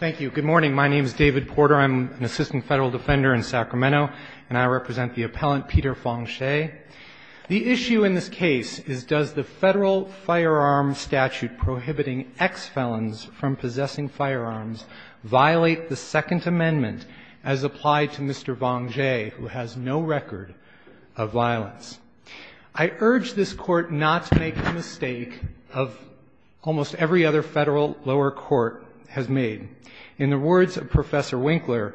Thank you. Good morning. My name is David Porter. I'm an assistant federal defender in Sacramento, and I represent the appellant Peter Vongxay. The issue in this case is does the federal firearm statute prohibiting ex-felons from possessing firearms violate the Second Amendment as applied to Mr. Vongxay, who has no record of violence? I urge this Court not to make the mistake of almost every other federal lower court has made. In the words of Professor Winkler,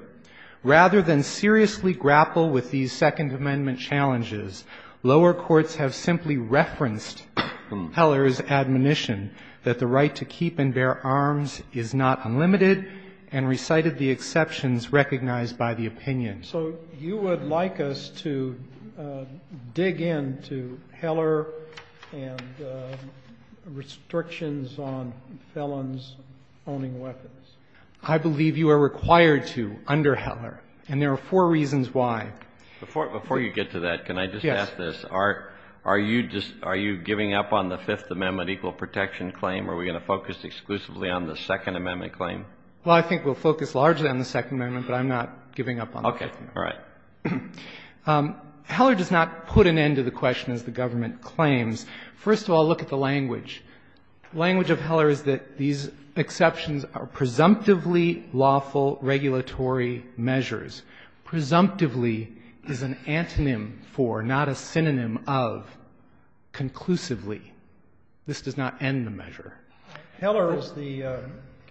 rather than seriously grapple with these Second Amendment challenges, lower courts have simply referenced Heller's admonition that the right to keep and bear arms is not unlimited and recited the exceptions recognized by the opinion. So you would like us to dig into Heller and restrictions on felons owning weapons? Peter Vongxay I believe you are required to under Heller, and there are four reasons why. Kennedy Before you get to that, can I just ask this? Peter Vongxay Yes. Kennedy Are you giving up on the Fifth Amendment equal protection claim? Are we going to focus exclusively on the Second Amendment claim? Peter Vongxay Well, I think we'll focus largely on the Second Amendment, but I'm not giving up on the Fifth Amendment. Kennedy Okay. All right. Peter Vongxay Heller does not put an end to the question, as the government claims. First of all, look at the language. The language of Heller is that these exceptions are presumptively lawful regulatory measures, presumptively is an antonym for, not a synonym of, conclusively. This does not end the measure. Kennedy Heller is the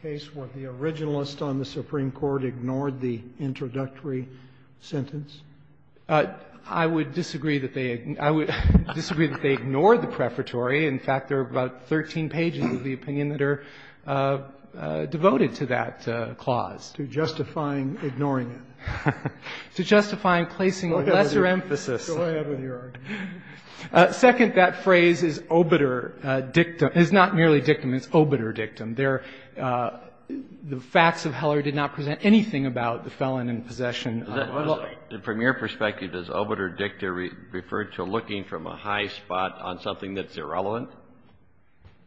case where the originalist on the Supreme Court ignored the introductory sentence? Peter Vongxay I would disagree that they ignored the prefatory. In fact, there are about 13 pages of the opinion that are devoted to that clause. Kennedy To justifying ignoring it. Peter Vongxay To justifying placing lesser emphasis. Kennedy Go ahead with your argument. Peter Vongxay It's not merely dictum. It's obiter dictum. The facts of Heller did not present anything about the felon in possession. Kennedy From your perspective, does obiter dictum refer to looking from a high spot on something that's irrelevant?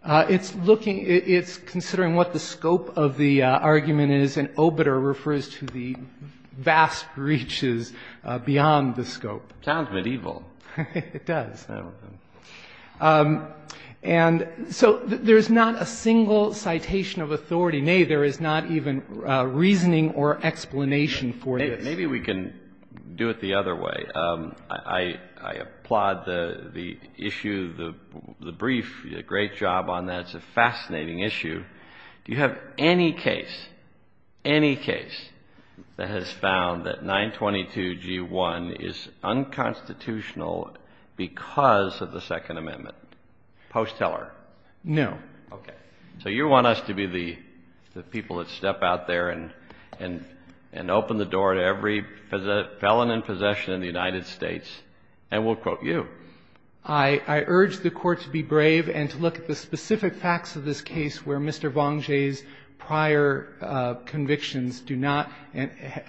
Peter Vongxay It's considering what the scope of the argument is, and obiter refers to the vast reaches beyond the scope. Kennedy Sounds medieval. Peter Vongxay It does. And so there's not a single citation of authority. Nay, there is not even reasoning or explanation for this. Kennedy Maybe we can do it the other way. I applaud the issue, the brief. You did a great job on that. It's a fascinating issue. Do you have any case, any case, that has found that 922G1 is unconstitutional because of the Second Amendment, post Heller? Peter Vongxay No. Kennedy Okay. So you want us to be the people that step out there and open the door to every felon in possession in the United States, and we'll quote you. I urge the Court to be brave and to look at the specific facts of this case where Mr. Vongxay's prior convictions do not,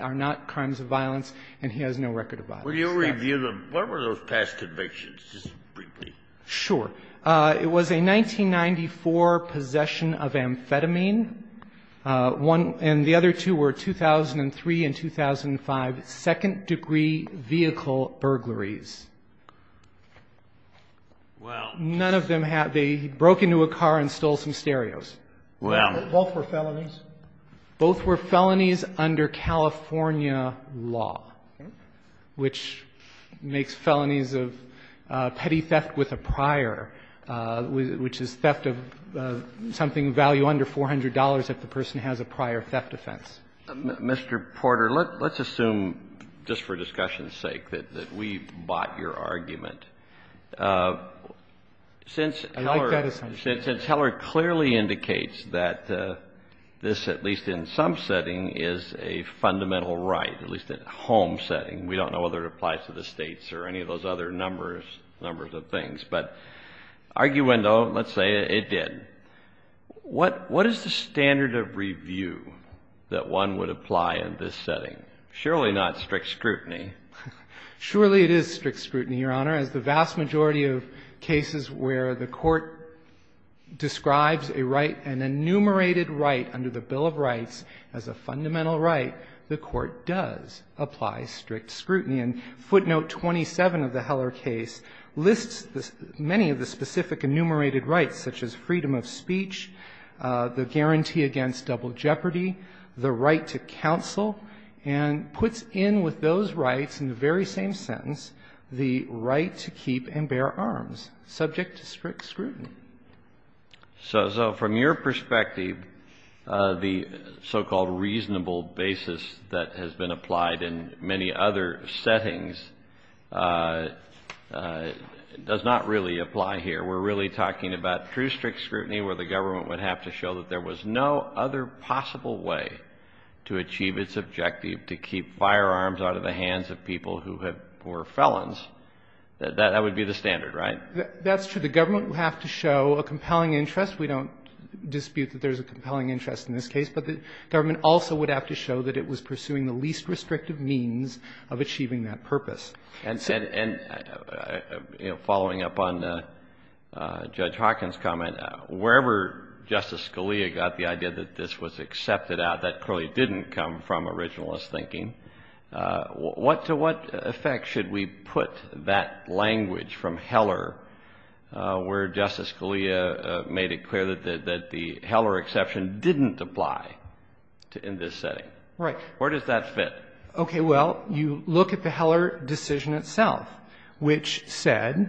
are not crimes of violence and he has no record of violence. Kennedy Will you review the, what were those past convictions, just briefly? Peter Vongxay Sure. It was a 1994 possession of amphetamine. One, and the other two were 2003 and 2005 second degree vehicle burglaries. None of them had, they broke into a car and stole some stereos. Kennedy Well. Both were felonies? Peter Vongxay Both were felonies under California law, which makes felonies of petty theft with a prior, which is theft of something of value under $400 if the person has a prior theft offense. Kennedy Mr. Porter, let's assume, just for discussion's sake, that we bought your argument. Since Heller clearly indicates that this, at least in some setting, is a fundamental right, at least in a home setting. We don't know whether it applies to the States or any of those other numbers, numbers of things. But arguendo, let's say it did. What, what is the standard of review that one would apply in this setting? Surely not strict scrutiny. Peter Vongxay Surely it is strict scrutiny, Your Honor. As the vast majority of cases where the court describes a right, an enumerated rights as a fundamental right, the court does apply strict scrutiny. And footnote 27 of the Heller case lists many of the specific enumerated rights, such as freedom of speech, the guarantee against double jeopardy, the right to counsel, and puts in with those rights, in the very same sentence, the right to keep and bear arms, subject to strict scrutiny. So, so from your perspective, the so-called reasonable basis that has been applied in many other settings does not really apply here. We're really talking about true strict scrutiny where the government would have to show that there was no other possible way to achieve its objective to keep firearms out of the hands of people who have, who are felons. That, that would be the standard, right? That's true. The government would have to show a compelling interest. We don't dispute that there's a compelling interest in this case. But the government also would have to show that it was pursuing the least restrictive means of achieving that purpose. And, and, you know, following up on Judge Hawkins' comment, wherever Justice Scalia got the idea that this was accepted out, that clearly didn't come from originalist thinking. What, to what effect should we put that language from Heller where Justice Scalia made it clear that, that the Heller exception didn't apply to, in this setting? Right. Where does that fit? Okay. Well, you look at the Heller decision itself, which said,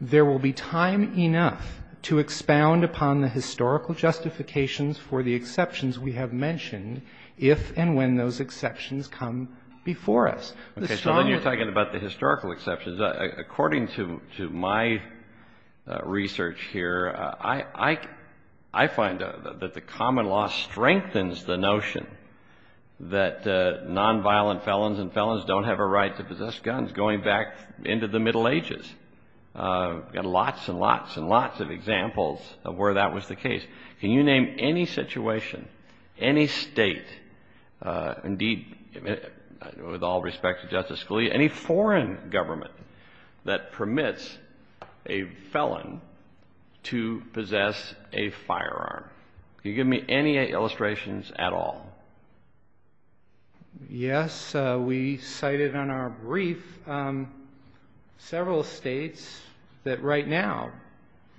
there will be time enough to expound upon the historical justifications for the exceptions we have mentioned if and when those exceptions come before us. Okay. So then you're talking about the historical exceptions. According to, to my research here, I, I, I find that the common law strengthens the notion that nonviolent felons and felons don't have a right to possess guns going back into the Middle Ages. We've got lots and lots and lots of examples of where that was the case. Can you name any situation, any State, indeed, with all respect to Justice Scalia, any foreign government that permits a felon to possess a firearm? Can you give me any illustrations at all? Yes. We cited on our brief several States that right now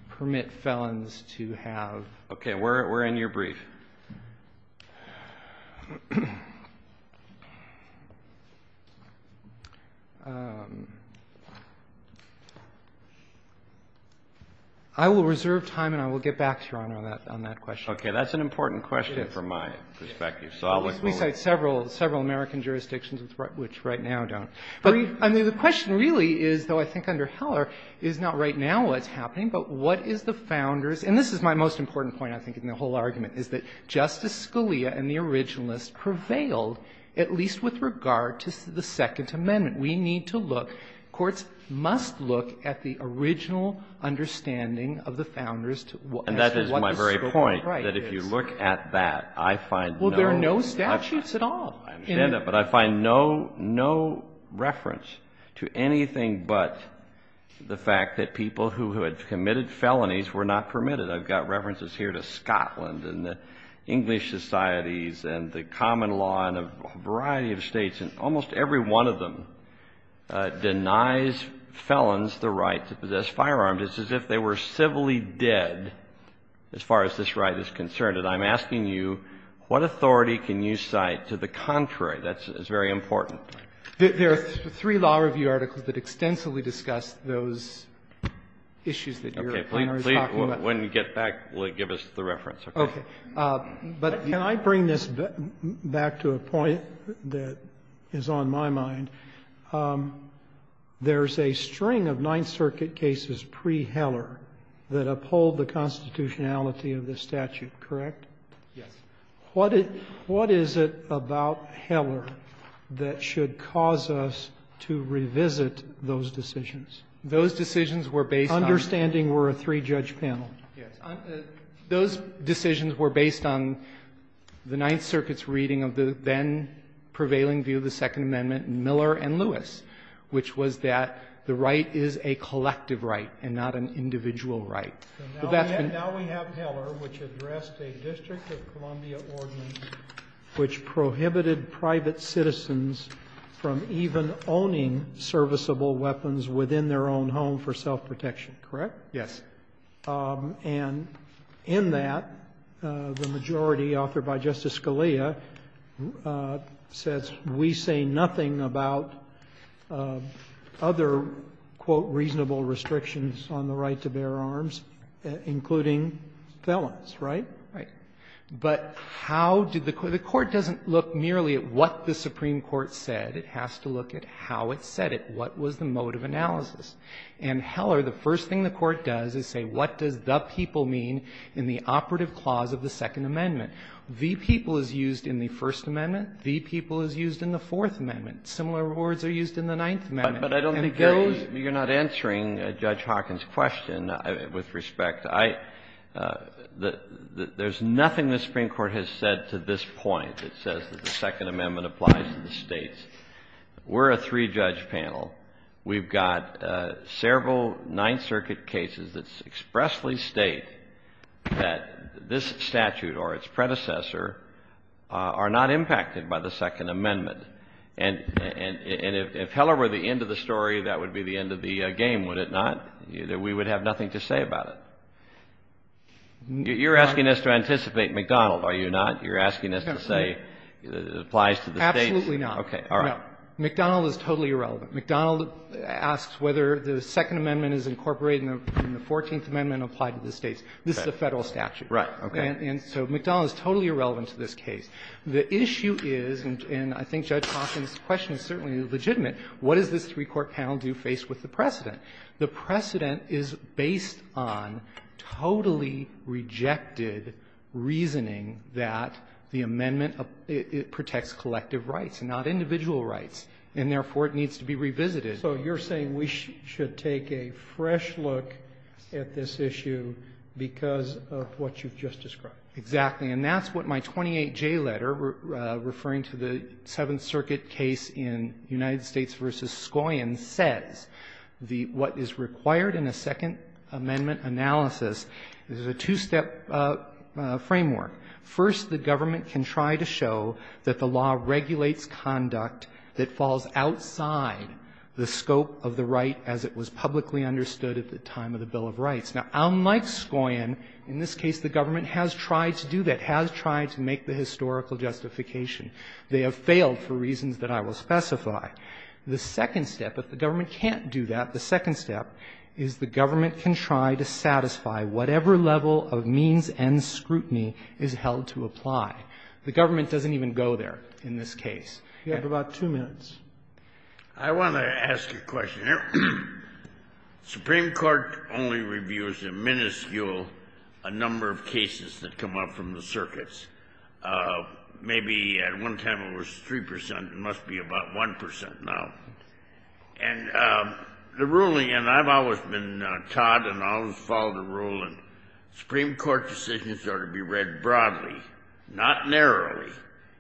permit felons to have firearms. Okay. Where, where in your brief? I will reserve time and I will get back to you, Your Honor, on that, on that question. Okay. That's an important question from my perspective. So I'll let you go with it. We cite several, several American jurisdictions which right now don't. I mean, the question really is, though I think under Heller, is not right now what's the founders, and this is my most important point, I think, in the whole argument, is that Justice Scalia and the originalists prevailed, at least with regard to the Second Amendment. We need to look. Courts must look at the original understanding of the founders as to what the scope of the right is. And that is my very point, that if you look at that, I find no. Well, there are no statutes at all. I understand that, but I find no, no reference to anything but the fact that people who had committed felonies were not permitted. I've got references here to Scotland and the English societies and the common law in a variety of States, and almost every one of them denies felons the right to possess firearms. It's as if they were civilly dead as far as this right is concerned. And I'm asking you, what authority can you cite to the contrary? That's very important. There are three law review articles that extensively discuss those issues that you're talking about. Okay. When we get back, give us the reference. Okay. But can I bring this back to a point that is on my mind? There's a string of Ninth Circuit cases pre-Heller that uphold the constitutionality of this statute, correct? Yes. What is it about Heller that should cause us to revisit those decisions? Those decisions were based on the Ninth Circuit's reading of the then prevailing view of the Second Amendment in Miller and Lewis, which was that the right is a collective right and not an individual right. Now we have Heller, which addressed a District of Columbia ordinance which prohibited private citizens from even owning serviceable weapons within their own home for self-protection, correct? Yes. And in that, the majority authored by Justice Scalia says, we say nothing about other, quote, reasonable restrictions on the right to bear arms, including felons, right? Right. But how did the Court do that? The Court doesn't look merely at what the Supreme Court said. It has to look at how it said it. What was the mode of analysis? And Heller, the first thing the Court does is say, what does the people mean in the operative clause of the Second Amendment? The people is used in the First Amendment. The people is used in the Fourth Amendment. Similar words are used in the Ninth Amendment. But I don't think those you're not answering Judge Hawkins' question with respect. There's nothing the Supreme Court has said to this point that says that the Second Amendment applies to the States. We're a three-judge panel. We've got several Ninth Circuit cases that expressly state that this statute or its predecessor are not impacted by the Second Amendment. And if Heller were the end of the story, that would be the end of the game, would it not, that we would have nothing to say about it? You're asking us to anticipate McDonald, are you not? You're asking us to say it applies to the States? Absolutely not. Okay. All right. No. McDonald is totally irrelevant. McDonald asks whether the Second Amendment is incorporated in the Fourteenth Amendment and applied to the States. This is a Federal statute. Right. And so McDonald is totally irrelevant to this case. The issue is, and I think Judge Hawkins' question is certainly legitimate, what does this three-court panel do faced with the precedent? The precedent is based on totally rejected reasoning that the amendment protects collective rights, not individual rights. And therefore, it needs to be revisited. So you're saying we should take a fresh look at this issue because of what you've just described. Exactly. And that's what my 28J letter referring to the Seventh Circuit case in United States v. Scoyon says. What is required in a Second Amendment analysis is a two-step framework. First, the government can try to show that the law regulates conduct that falls outside the scope of the right as it was publicly understood at the time of the Bill of Rights. Now, unlike Scoyon, in this case the government has tried to do that, has tried to make the historical justification. They have failed for reasons that I will specify. The second step, if the government can't do that, the second step is the government can try to satisfy whatever level of means and scrutiny is held to apply. The government doesn't even go there in this case. You have about two minutes. I want to ask a question here. Supreme Court only reviews a minuscule number of cases that come up from the circuits. Maybe at one time it was 3 percent. It must be about 1 percent now. And the ruling, and I've always been taught and always followed the rule, Supreme Court decisions are to be read broadly, not narrowly.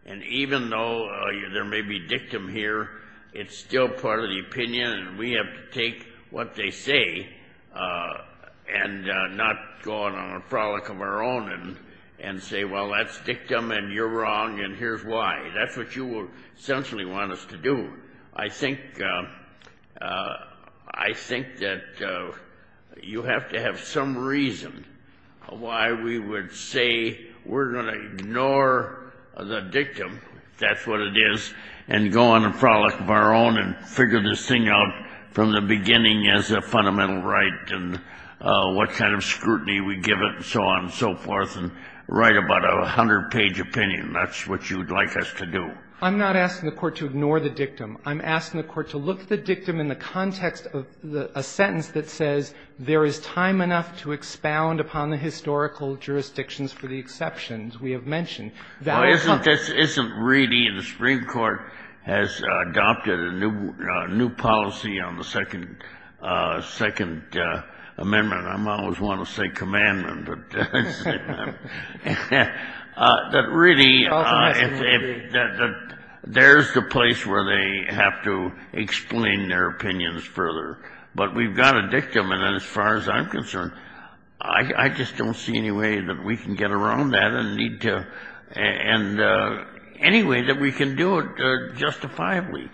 And even though there may be dictum here, it's still part of the opinion and we have to take what they say and not go on a frolic of our own and say, well, that's dictum and you're wrong and here's why. That's what you essentially want us to do. I think that you have to have some reason why we would say we're going to ignore the dictum, if that's what it is, and go on a frolic of our own and figure this thing out from the beginning as a fundamental right and what kind of scrutiny we give it and so on and so forth and write about a hundred-page opinion. That's what you'd like us to do. I'm not asking the Court to ignore the dictum. I'm asking the Court to look at the dictum in the context of a sentence that says there is time enough to expound upon the historical jurisdictions for the exceptions we have mentioned. That is something. Kennedy. Well, this isn't really the Supreme Court has adopted a new policy on the Second Amendment. I always want to say commandment. But really, there's the place where they have to explain their opinions further. But we've got a dictum, and as far as I'm concerned, I just don't see any way that we can get around that and need to any way that we can do it justifiably.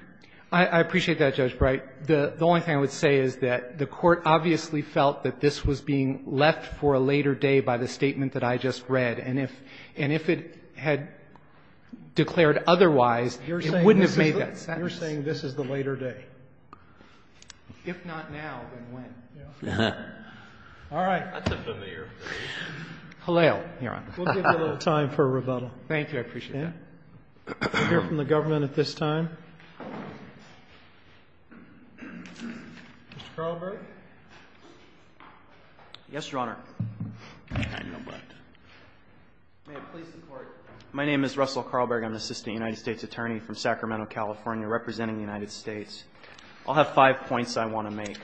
I appreciate that, Judge Breyer. The only thing I would say is that the Court obviously felt that this was being left for a later day by the statement that I just read. And if it had declared otherwise, it wouldn't have made that sentence. You're saying this is the later day. If not now, then when? Yeah. All right. That's a familiar phrase. Hillel, Your Honor. We'll give you a little time for rebuttal. Thank you. I appreciate that. We'll hear from the government at this time. Mr. Carlberg. Yes, Your Honor. I know, but. May it please the Court. My name is Russell Carlberg. I'm an assistant United States attorney from Sacramento, California, representing the United States. I'll have five points I want to make.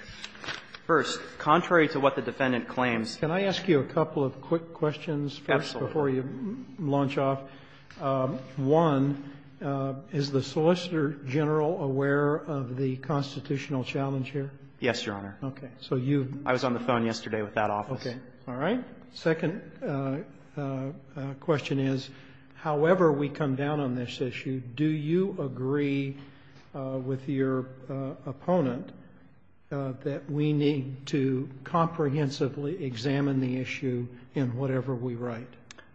First, contrary to what the defendant claims. Can I ask you a couple of quick questions? Absolutely. Before you launch off. One, is the Solicitor General aware of the constitutional challenge here? Yes, Your Honor. Okay. So you've. I was on the phone yesterday with that office. Okay. All right. Second question is, however we come down on this issue. Do you agree with your opponent that we need to comprehensively examine the issue in whatever we write?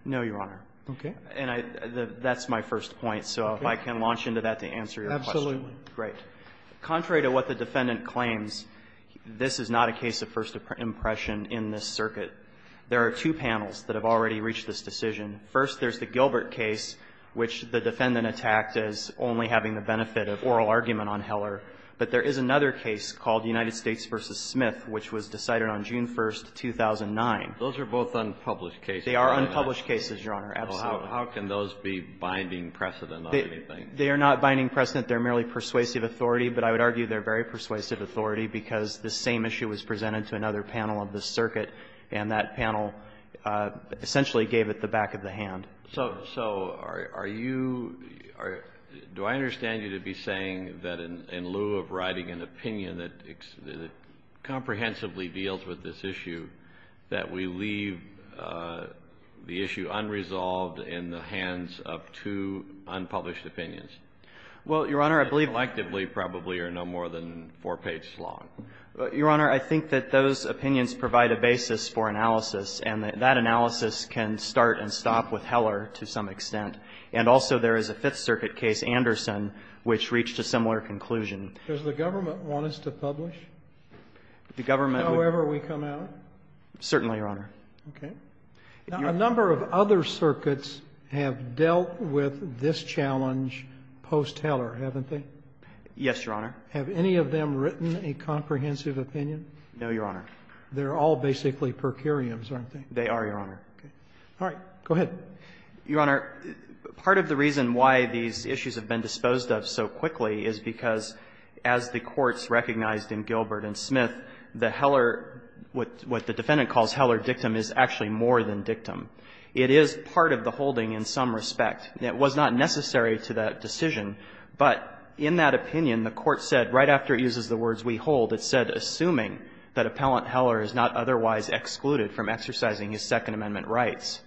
No, Your Honor. Okay. And that's my first point. So if I can launch into that to answer your question. Absolutely. Great. Contrary to what the defendant claims, this is not a case of first impression in this circuit. There are two panels that have already reached this decision. First, there's the Gilbert case, which the defendant attacked as only having the benefit of oral argument on Heller. But there is another case called United States v. Smith, which was decided on June 1st, 2009. Those are both unpublished cases. They are unpublished cases, Your Honor. Absolutely. How can those be binding precedent on anything? They are not binding precedent. They're merely persuasive authority. But I would argue they're very persuasive authority because the same issue was presented to another panel of this circuit, and that panel essentially gave it the back of the hand. So are you or do I understand you to be saying that in lieu of writing an opinion that comprehensively deals with this issue, that we leave the issue unresolved in the hands of two unpublished opinions? Well, Your Honor, I believe that collectively probably are no more than four pages long. Your Honor, I think that those opinions provide a basis for analysis, and that analysis can start and stop with Heller to some extent. And also there is a Fifth Circuit case, Anderson, which reached a similar conclusion. Does the government want us to publish however we come out? Certainly, Your Honor. Okay. Now, a number of other circuits have dealt with this challenge post-Heller, haven't they? Yes, Your Honor. Have any of them written a comprehensive opinion? No, Your Honor. They're all basically per curiams, aren't they? They are, Your Honor. Okay. All right. Go ahead. Your Honor, part of the reason why these issues have been disposed of so quickly is because as the courts recognized in Gilbert and Smith, the Heller, what the defendant calls Heller dictum is actually more than dictum. It is part of the holding in some respect. It was not necessary to that decision, but in that opinion, the Court said right after it uses the words we hold, it said assuming that Appellant Heller is not otherwise excluded from exercising his Second Amendment rights.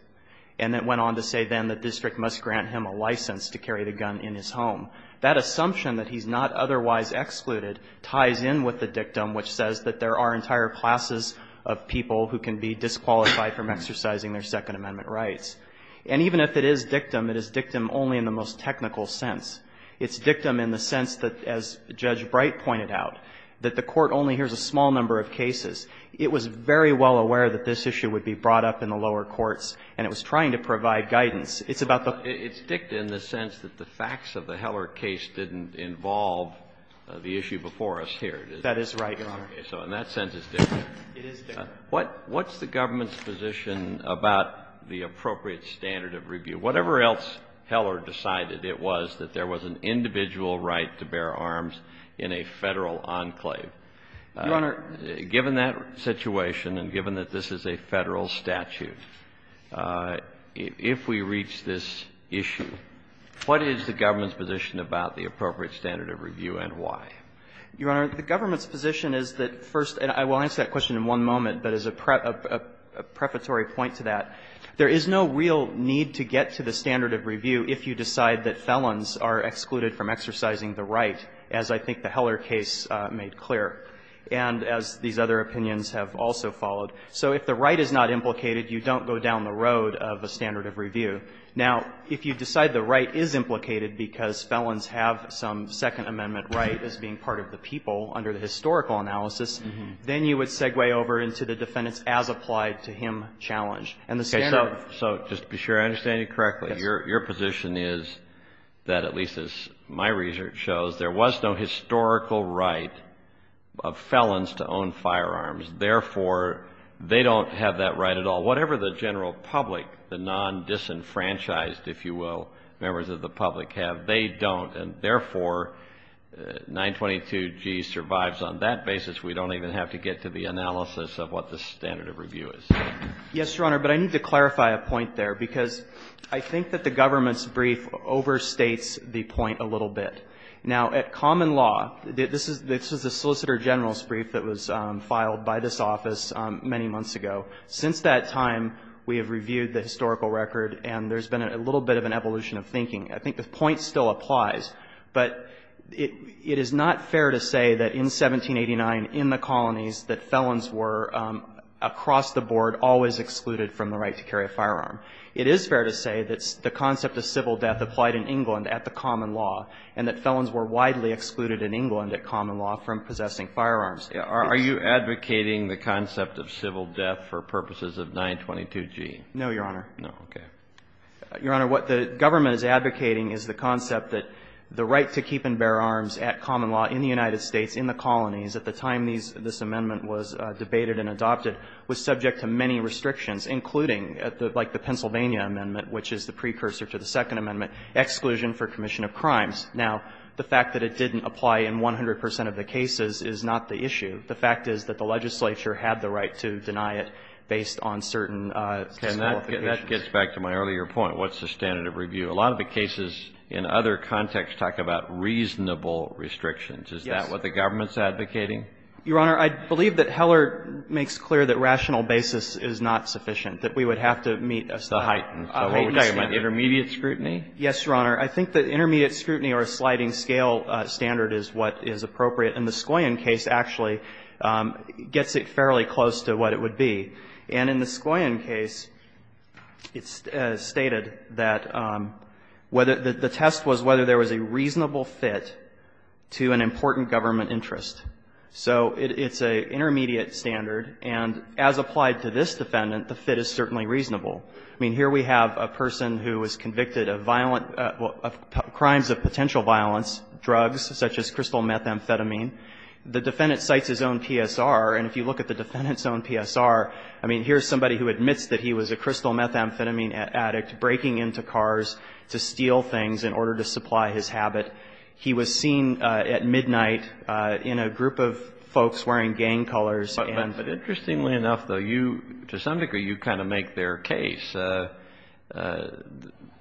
And it went on to say then the district must grant him a license to carry the gun in his home. That assumption that he's not otherwise excluded ties in with the dictum, which says that there are entire classes of people who can be disqualified from exercising their Second Amendment rights. And even if it is dictum, it is dictum only in the most technical sense. It's dictum in the sense that, as Judge Bright pointed out, that the Court only hears a small number of cases. It was very well aware that this issue would be brought up in the lower courts, and it was trying to provide guidance. It's about the ---- It's dictum in the sense that the facts of the Heller case didn't involve the issue before us here, did it? That is right, Your Honor. So in that sense, it's dictum. It is dictum. What's the government's position about the appropriate standard of review? Whatever else Heller decided, it was that there was an individual right to bear arms in a Federal enclave. Your Honor. Given that situation and given that this is a Federal statute, if we reach this issue, what is the government's position about the appropriate standard of review and why? Your Honor, the government's position is that first ---- and I will answer that question in one moment, but as a prefatory point to that, there is no real need to get to the standard of review if you decide that felons are excluded from exercising the right, as I think the Heller case made clear, and as these other opinions have also followed. So if the right is not implicated, you don't go down the road of a standard of review. Now, if you decide the right is implicated because felons have some Second Amendment right as being part of the people under the historical analysis, then you would segue over into the defendant's as-applied-to-him challenge. And the standard of ---- Okay. So just to be sure I understand you correctly, your position is that at least as my research shows, there was no historical right of felons to own firearms. Therefore, they don't have that right at all. Whatever the general public, the non-disenfranchised, if you will, members of the public have, they don't, and therefore, 922G survives on that basis. We don't even have to get to the analysis of what the standard of review is. Yes, Your Honor, but I need to clarify a point there, because I think that the government's brief overstates the point a little bit. Now, at common law, this is the Solicitor General's brief that was filed by this office many months ago. Since that time, we have reviewed the historical record, and there's been a little bit of an evolution of thinking. I think the point still applies. But it is not fair to say that in 1789 in the colonies that felons were across the board always excluded from the right to carry a firearm. It is fair to say that the concept of civil death applied in England at the common law, and that felons were widely excluded in England at common law from possessing firearms. Are you advocating the concept of civil death for purposes of 922G? No, Your Honor. Okay. Your Honor, what the government is advocating is the concept that the right to keep and bear arms at common law in the United States, in the colonies, at the time this amendment was debated and adopted, was subject to many restrictions, including, like the Pennsylvania amendment, which is the precursor to the Second Amendment, exclusion for commission of crimes. Now, the fact that it didn't apply in 100 percent of the cases is not the issue. The fact is that the legislature had the right to deny it based on certain qualifications. That gets back to my earlier point. What's the standard of review? A lot of the cases in other contexts talk about reasonable restrictions. Yes. Is that what the government's advocating? Your Honor, I believe that Heller makes clear that rational basis is not sufficient, that we would have to meet a standard. The heightened standard. The heightened standard. Intermediate scrutiny? Yes, Your Honor. I think that intermediate scrutiny or a sliding scale standard is what is appropriate, and the Skoyan case actually gets it fairly close to what it would be. And in the Skoyan case, it's stated that whether the test was whether there was a reasonable fit to an important government interest. So it's an intermediate standard. And as applied to this defendant, the fit is certainly reasonable. I mean, here we have a person who was convicted of violent, of crimes of potential violence, drugs such as crystal methamphetamine. The defendant cites his own PSR. And if you look at the defendant's own PSR, I mean, here's somebody who admits that he was a crystal methamphetamine addict breaking into cars to steal things in order to supply his habit. He was seen at midnight in a group of folks wearing gang colors. But interestingly enough, though, you, to some degree, you kind of make their case.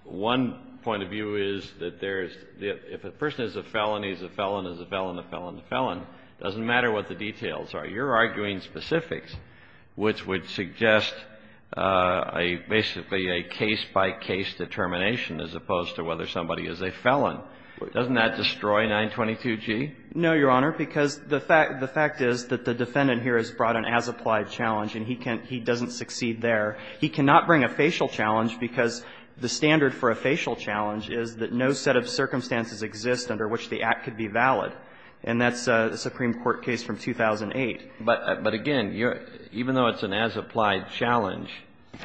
One point of view is that there's, if a person is a felon, he's a felon, he's a felon, a felon, a felon, it doesn't matter what the details are. You're arguing specifics, which would suggest basically a case-by-case determination as opposed to whether somebody is a felon. Doesn't that destroy 922g? No, Your Honor, because the fact is that the defendant here has brought an as-applied challenge, and he doesn't succeed there. He cannot bring a facial challenge because the standard for a facial challenge is that no set of circumstances exist under which the act could be valid. And that's a Supreme Court case from 2008. But again, even though it's an as-applied challenge,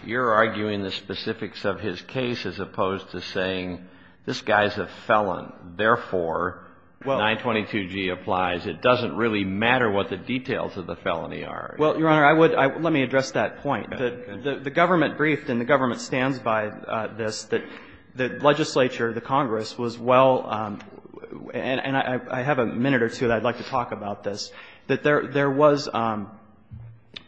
you're arguing the specifics of his case as opposed to saying this guy's a felon, therefore, 922g applies. It doesn't really matter what the details of the felony are. Well, Your Honor, I would – let me address that point. The government briefed, and the government stands by this, that the legislature, the Congress, was well – and I have a minute or two that I'd like to talk about this – that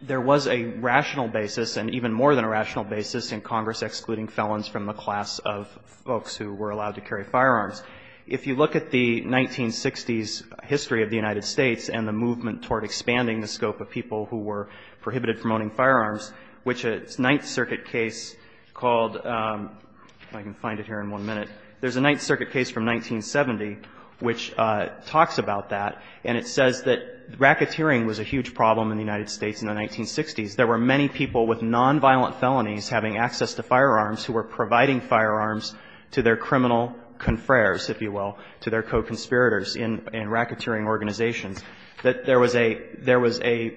there was a rational basis and even more than a rational basis in Congress excluding felons from the class of folks who were allowed to carry firearms. If you look at the 1960s history of the United States and the movement toward expanding the scope of people who were prohibited from owning firearms, which a Ninth Circuit case called – if I can find it here in one minute – there's a Ninth Circuit case from 1970 which talks about that, and it says that racketeering was a huge problem in the United States in the 1960s. There were many people with nonviolent felonies having access to firearms who were providing firearms to their criminal confreres, if you will, to their co-conspirators in racketeering organizations. There was a – there was a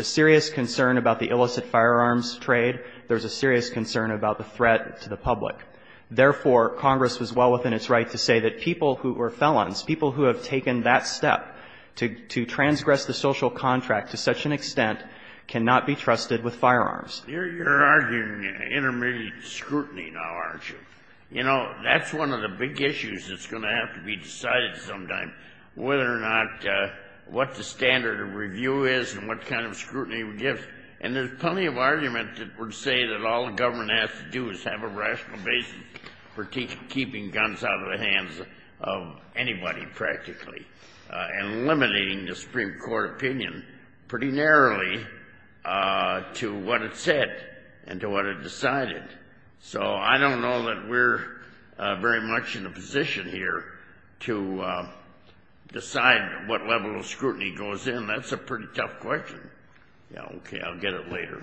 serious concern about the illicit firearms trade. There was a serious concern about the threat to the public. Therefore, Congress was well within its right to say that people who were felons, people who have taken that step to transgress the social contract to such an extent cannot be trusted with firearms. You're arguing intermediate scrutiny now, aren't you? You know, that's one of the big issues that's going to have to be decided sometime, whether or not what the standard of review is and what kind of scrutiny we give. And there's plenty of argument that would say that all the government has to do is have a rational basis for keeping guns out of the hands of anybody, practically, and limiting the Supreme Court opinion pretty narrowly to what it said and to what it decided. So I don't know that we're very much in a position here to decide what level of scrutiny goes in. That's a pretty tough question. Yeah, okay, I'll get it later.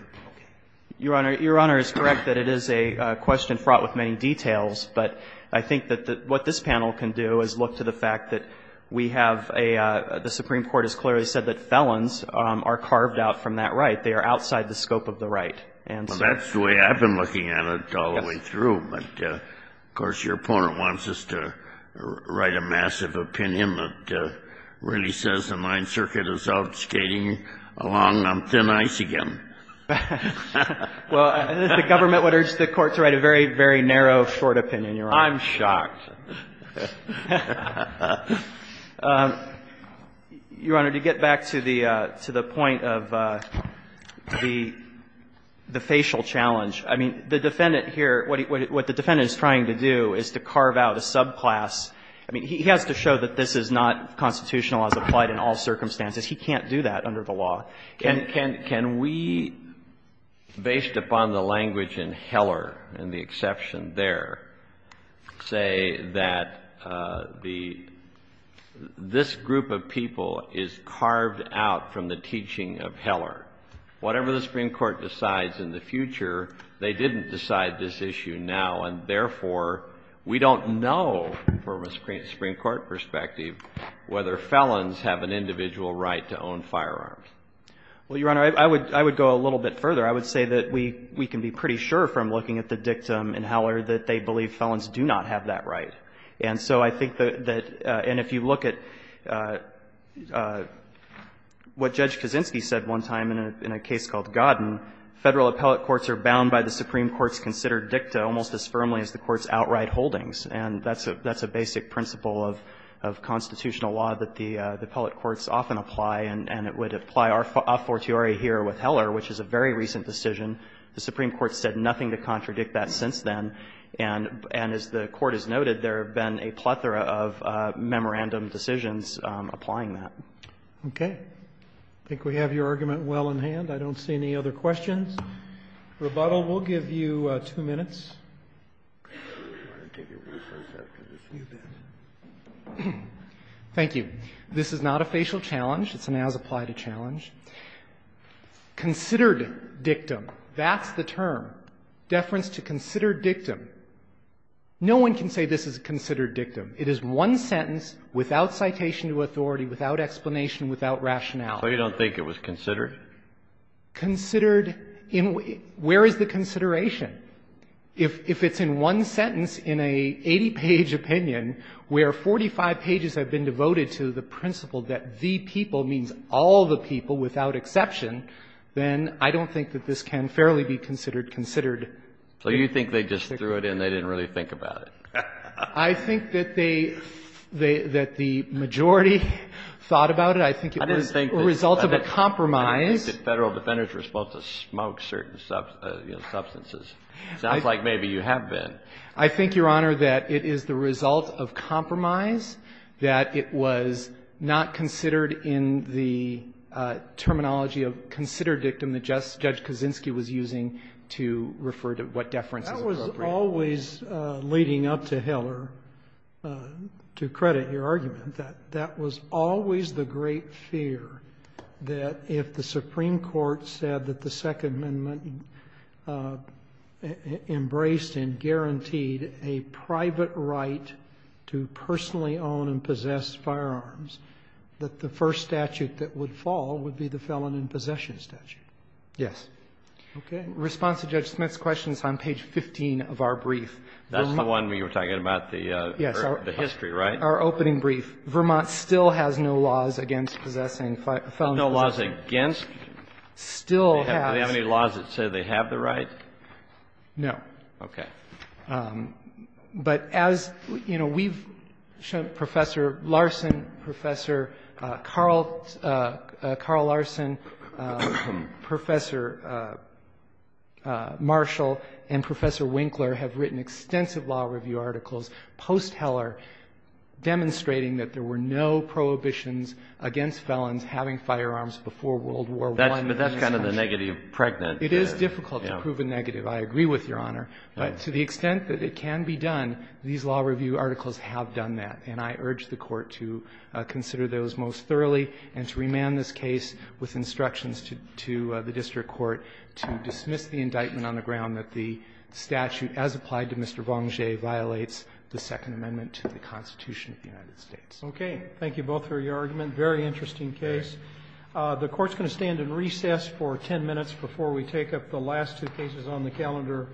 Your Honor, your Honor is correct that it is a question fraught with many details, but I think that what this panel can do is look to the fact that we have a – the Supreme Court has clearly said that felons are carved out from that right. They are outside the scope of the right. Well, that's the way I've been looking at it all the way through. But, of course, your opponent wants us to write a massive opinion that really says the Ninth Circuit is out skating along on thin ice again. Well, the government would urge the Court to write a very, very narrow, short opinion, Your Honor. I'm shocked. Your Honor, to get back to the point of the facial challenge, I mean, the defendant here, what the defendant is trying to do is to carve out a subclass. I mean, he has to show that this is not constitutional as applied in all circumstances. He can't do that under the law. Can we, based upon the language in Heller and the exception there, say that this group of people is carved out from the teaching of Heller? Whatever the Supreme Court decides in the future, they didn't decide this issue now, and therefore we don't know, from a Supreme Court perspective, whether felons have an individual right to own firearms. Well, Your Honor, I would go a little bit further. I would say that we can be pretty sure, from looking at the dictum in Heller, that they believe felons do not have that right. And so I think that if you look at what Judge Kaczynski said one time in a case called Godden, Federal appellate courts are bound by the Supreme Court's considered dicta almost as firmly as the Court's outright holdings. And that's a basic principle of constitutional law that the appellate courts often apply, and it would apply a fortiori here with Heller, which is a very recent decision. The Supreme Court said nothing to contradict that since then. And as the Court has noted, there have been a plethora of memorandum decisions applying that. Okay. I think we have your argument well in hand. I don't see any other questions. Rebuttal will give you two minutes. Thank you. This is not a facial challenge. It's an as-applied a challenge. Considered dictum. That's the term. Deference to considered dictum. No one can say this is a considered dictum. It is one sentence without citation to authority, without explanation, without rationale. So you don't think it was considered? Considered in what? Where is the consideration? If it's in one sentence in an 80-page opinion where 45 pages have been devoted to the principle that the people means all the people without exception, then I don't think that this can fairly be considered considered. So you think they just threw it in. They didn't really think about it. I think that they, that the majority thought about it. I think it was a result of a compromise. Federal defenders were supposed to smoke certain substances. Sounds like maybe you have been. I think, Your Honor, that it is the result of compromise, that it was not considered in the terminology of considered dictum that Judge Kaczynski was using to refer to what deference is appropriate. That was always leading up to Heller, to credit your argument, that that was always the great fear that if the Supreme Court said that the Second Amendment embraced and guaranteed a private right to personally own and possess firearms, that the first statute that would fall would be the felon in possession statute. Yes. Okay. In response to Judge Smith's question, it's on page 15 of our brief. That's the one where you were talking about the history, right? Yes, our opening brief. Vermont still has no laws against possessing felon in possession. No laws against? Still has. Do they have any laws that say they have the right? No. Okay. But as, you know, we've shown Professor Larson, Professor Carl, Carl Larson, Professor Marshall, and Professor Winkler have written extensive law review articles post-Heller demonstrating that there were no prohibitions against felons having firearms before World War I. But that's kind of the negative pregnant. It is difficult to prove a negative. I agree with Your Honor. But to the extent that it can be done, these law review articles have done that. And I urge the Court to consider those most thoroughly and to remand this case with instructions to the district court to dismiss the indictment on the ground that the Second Amendment to the Constitution of the United States. Okay. Thank you both for your argument. Very interesting case. The Court's going to stand in recess for ten minutes before we take up the last two cases on the calendar.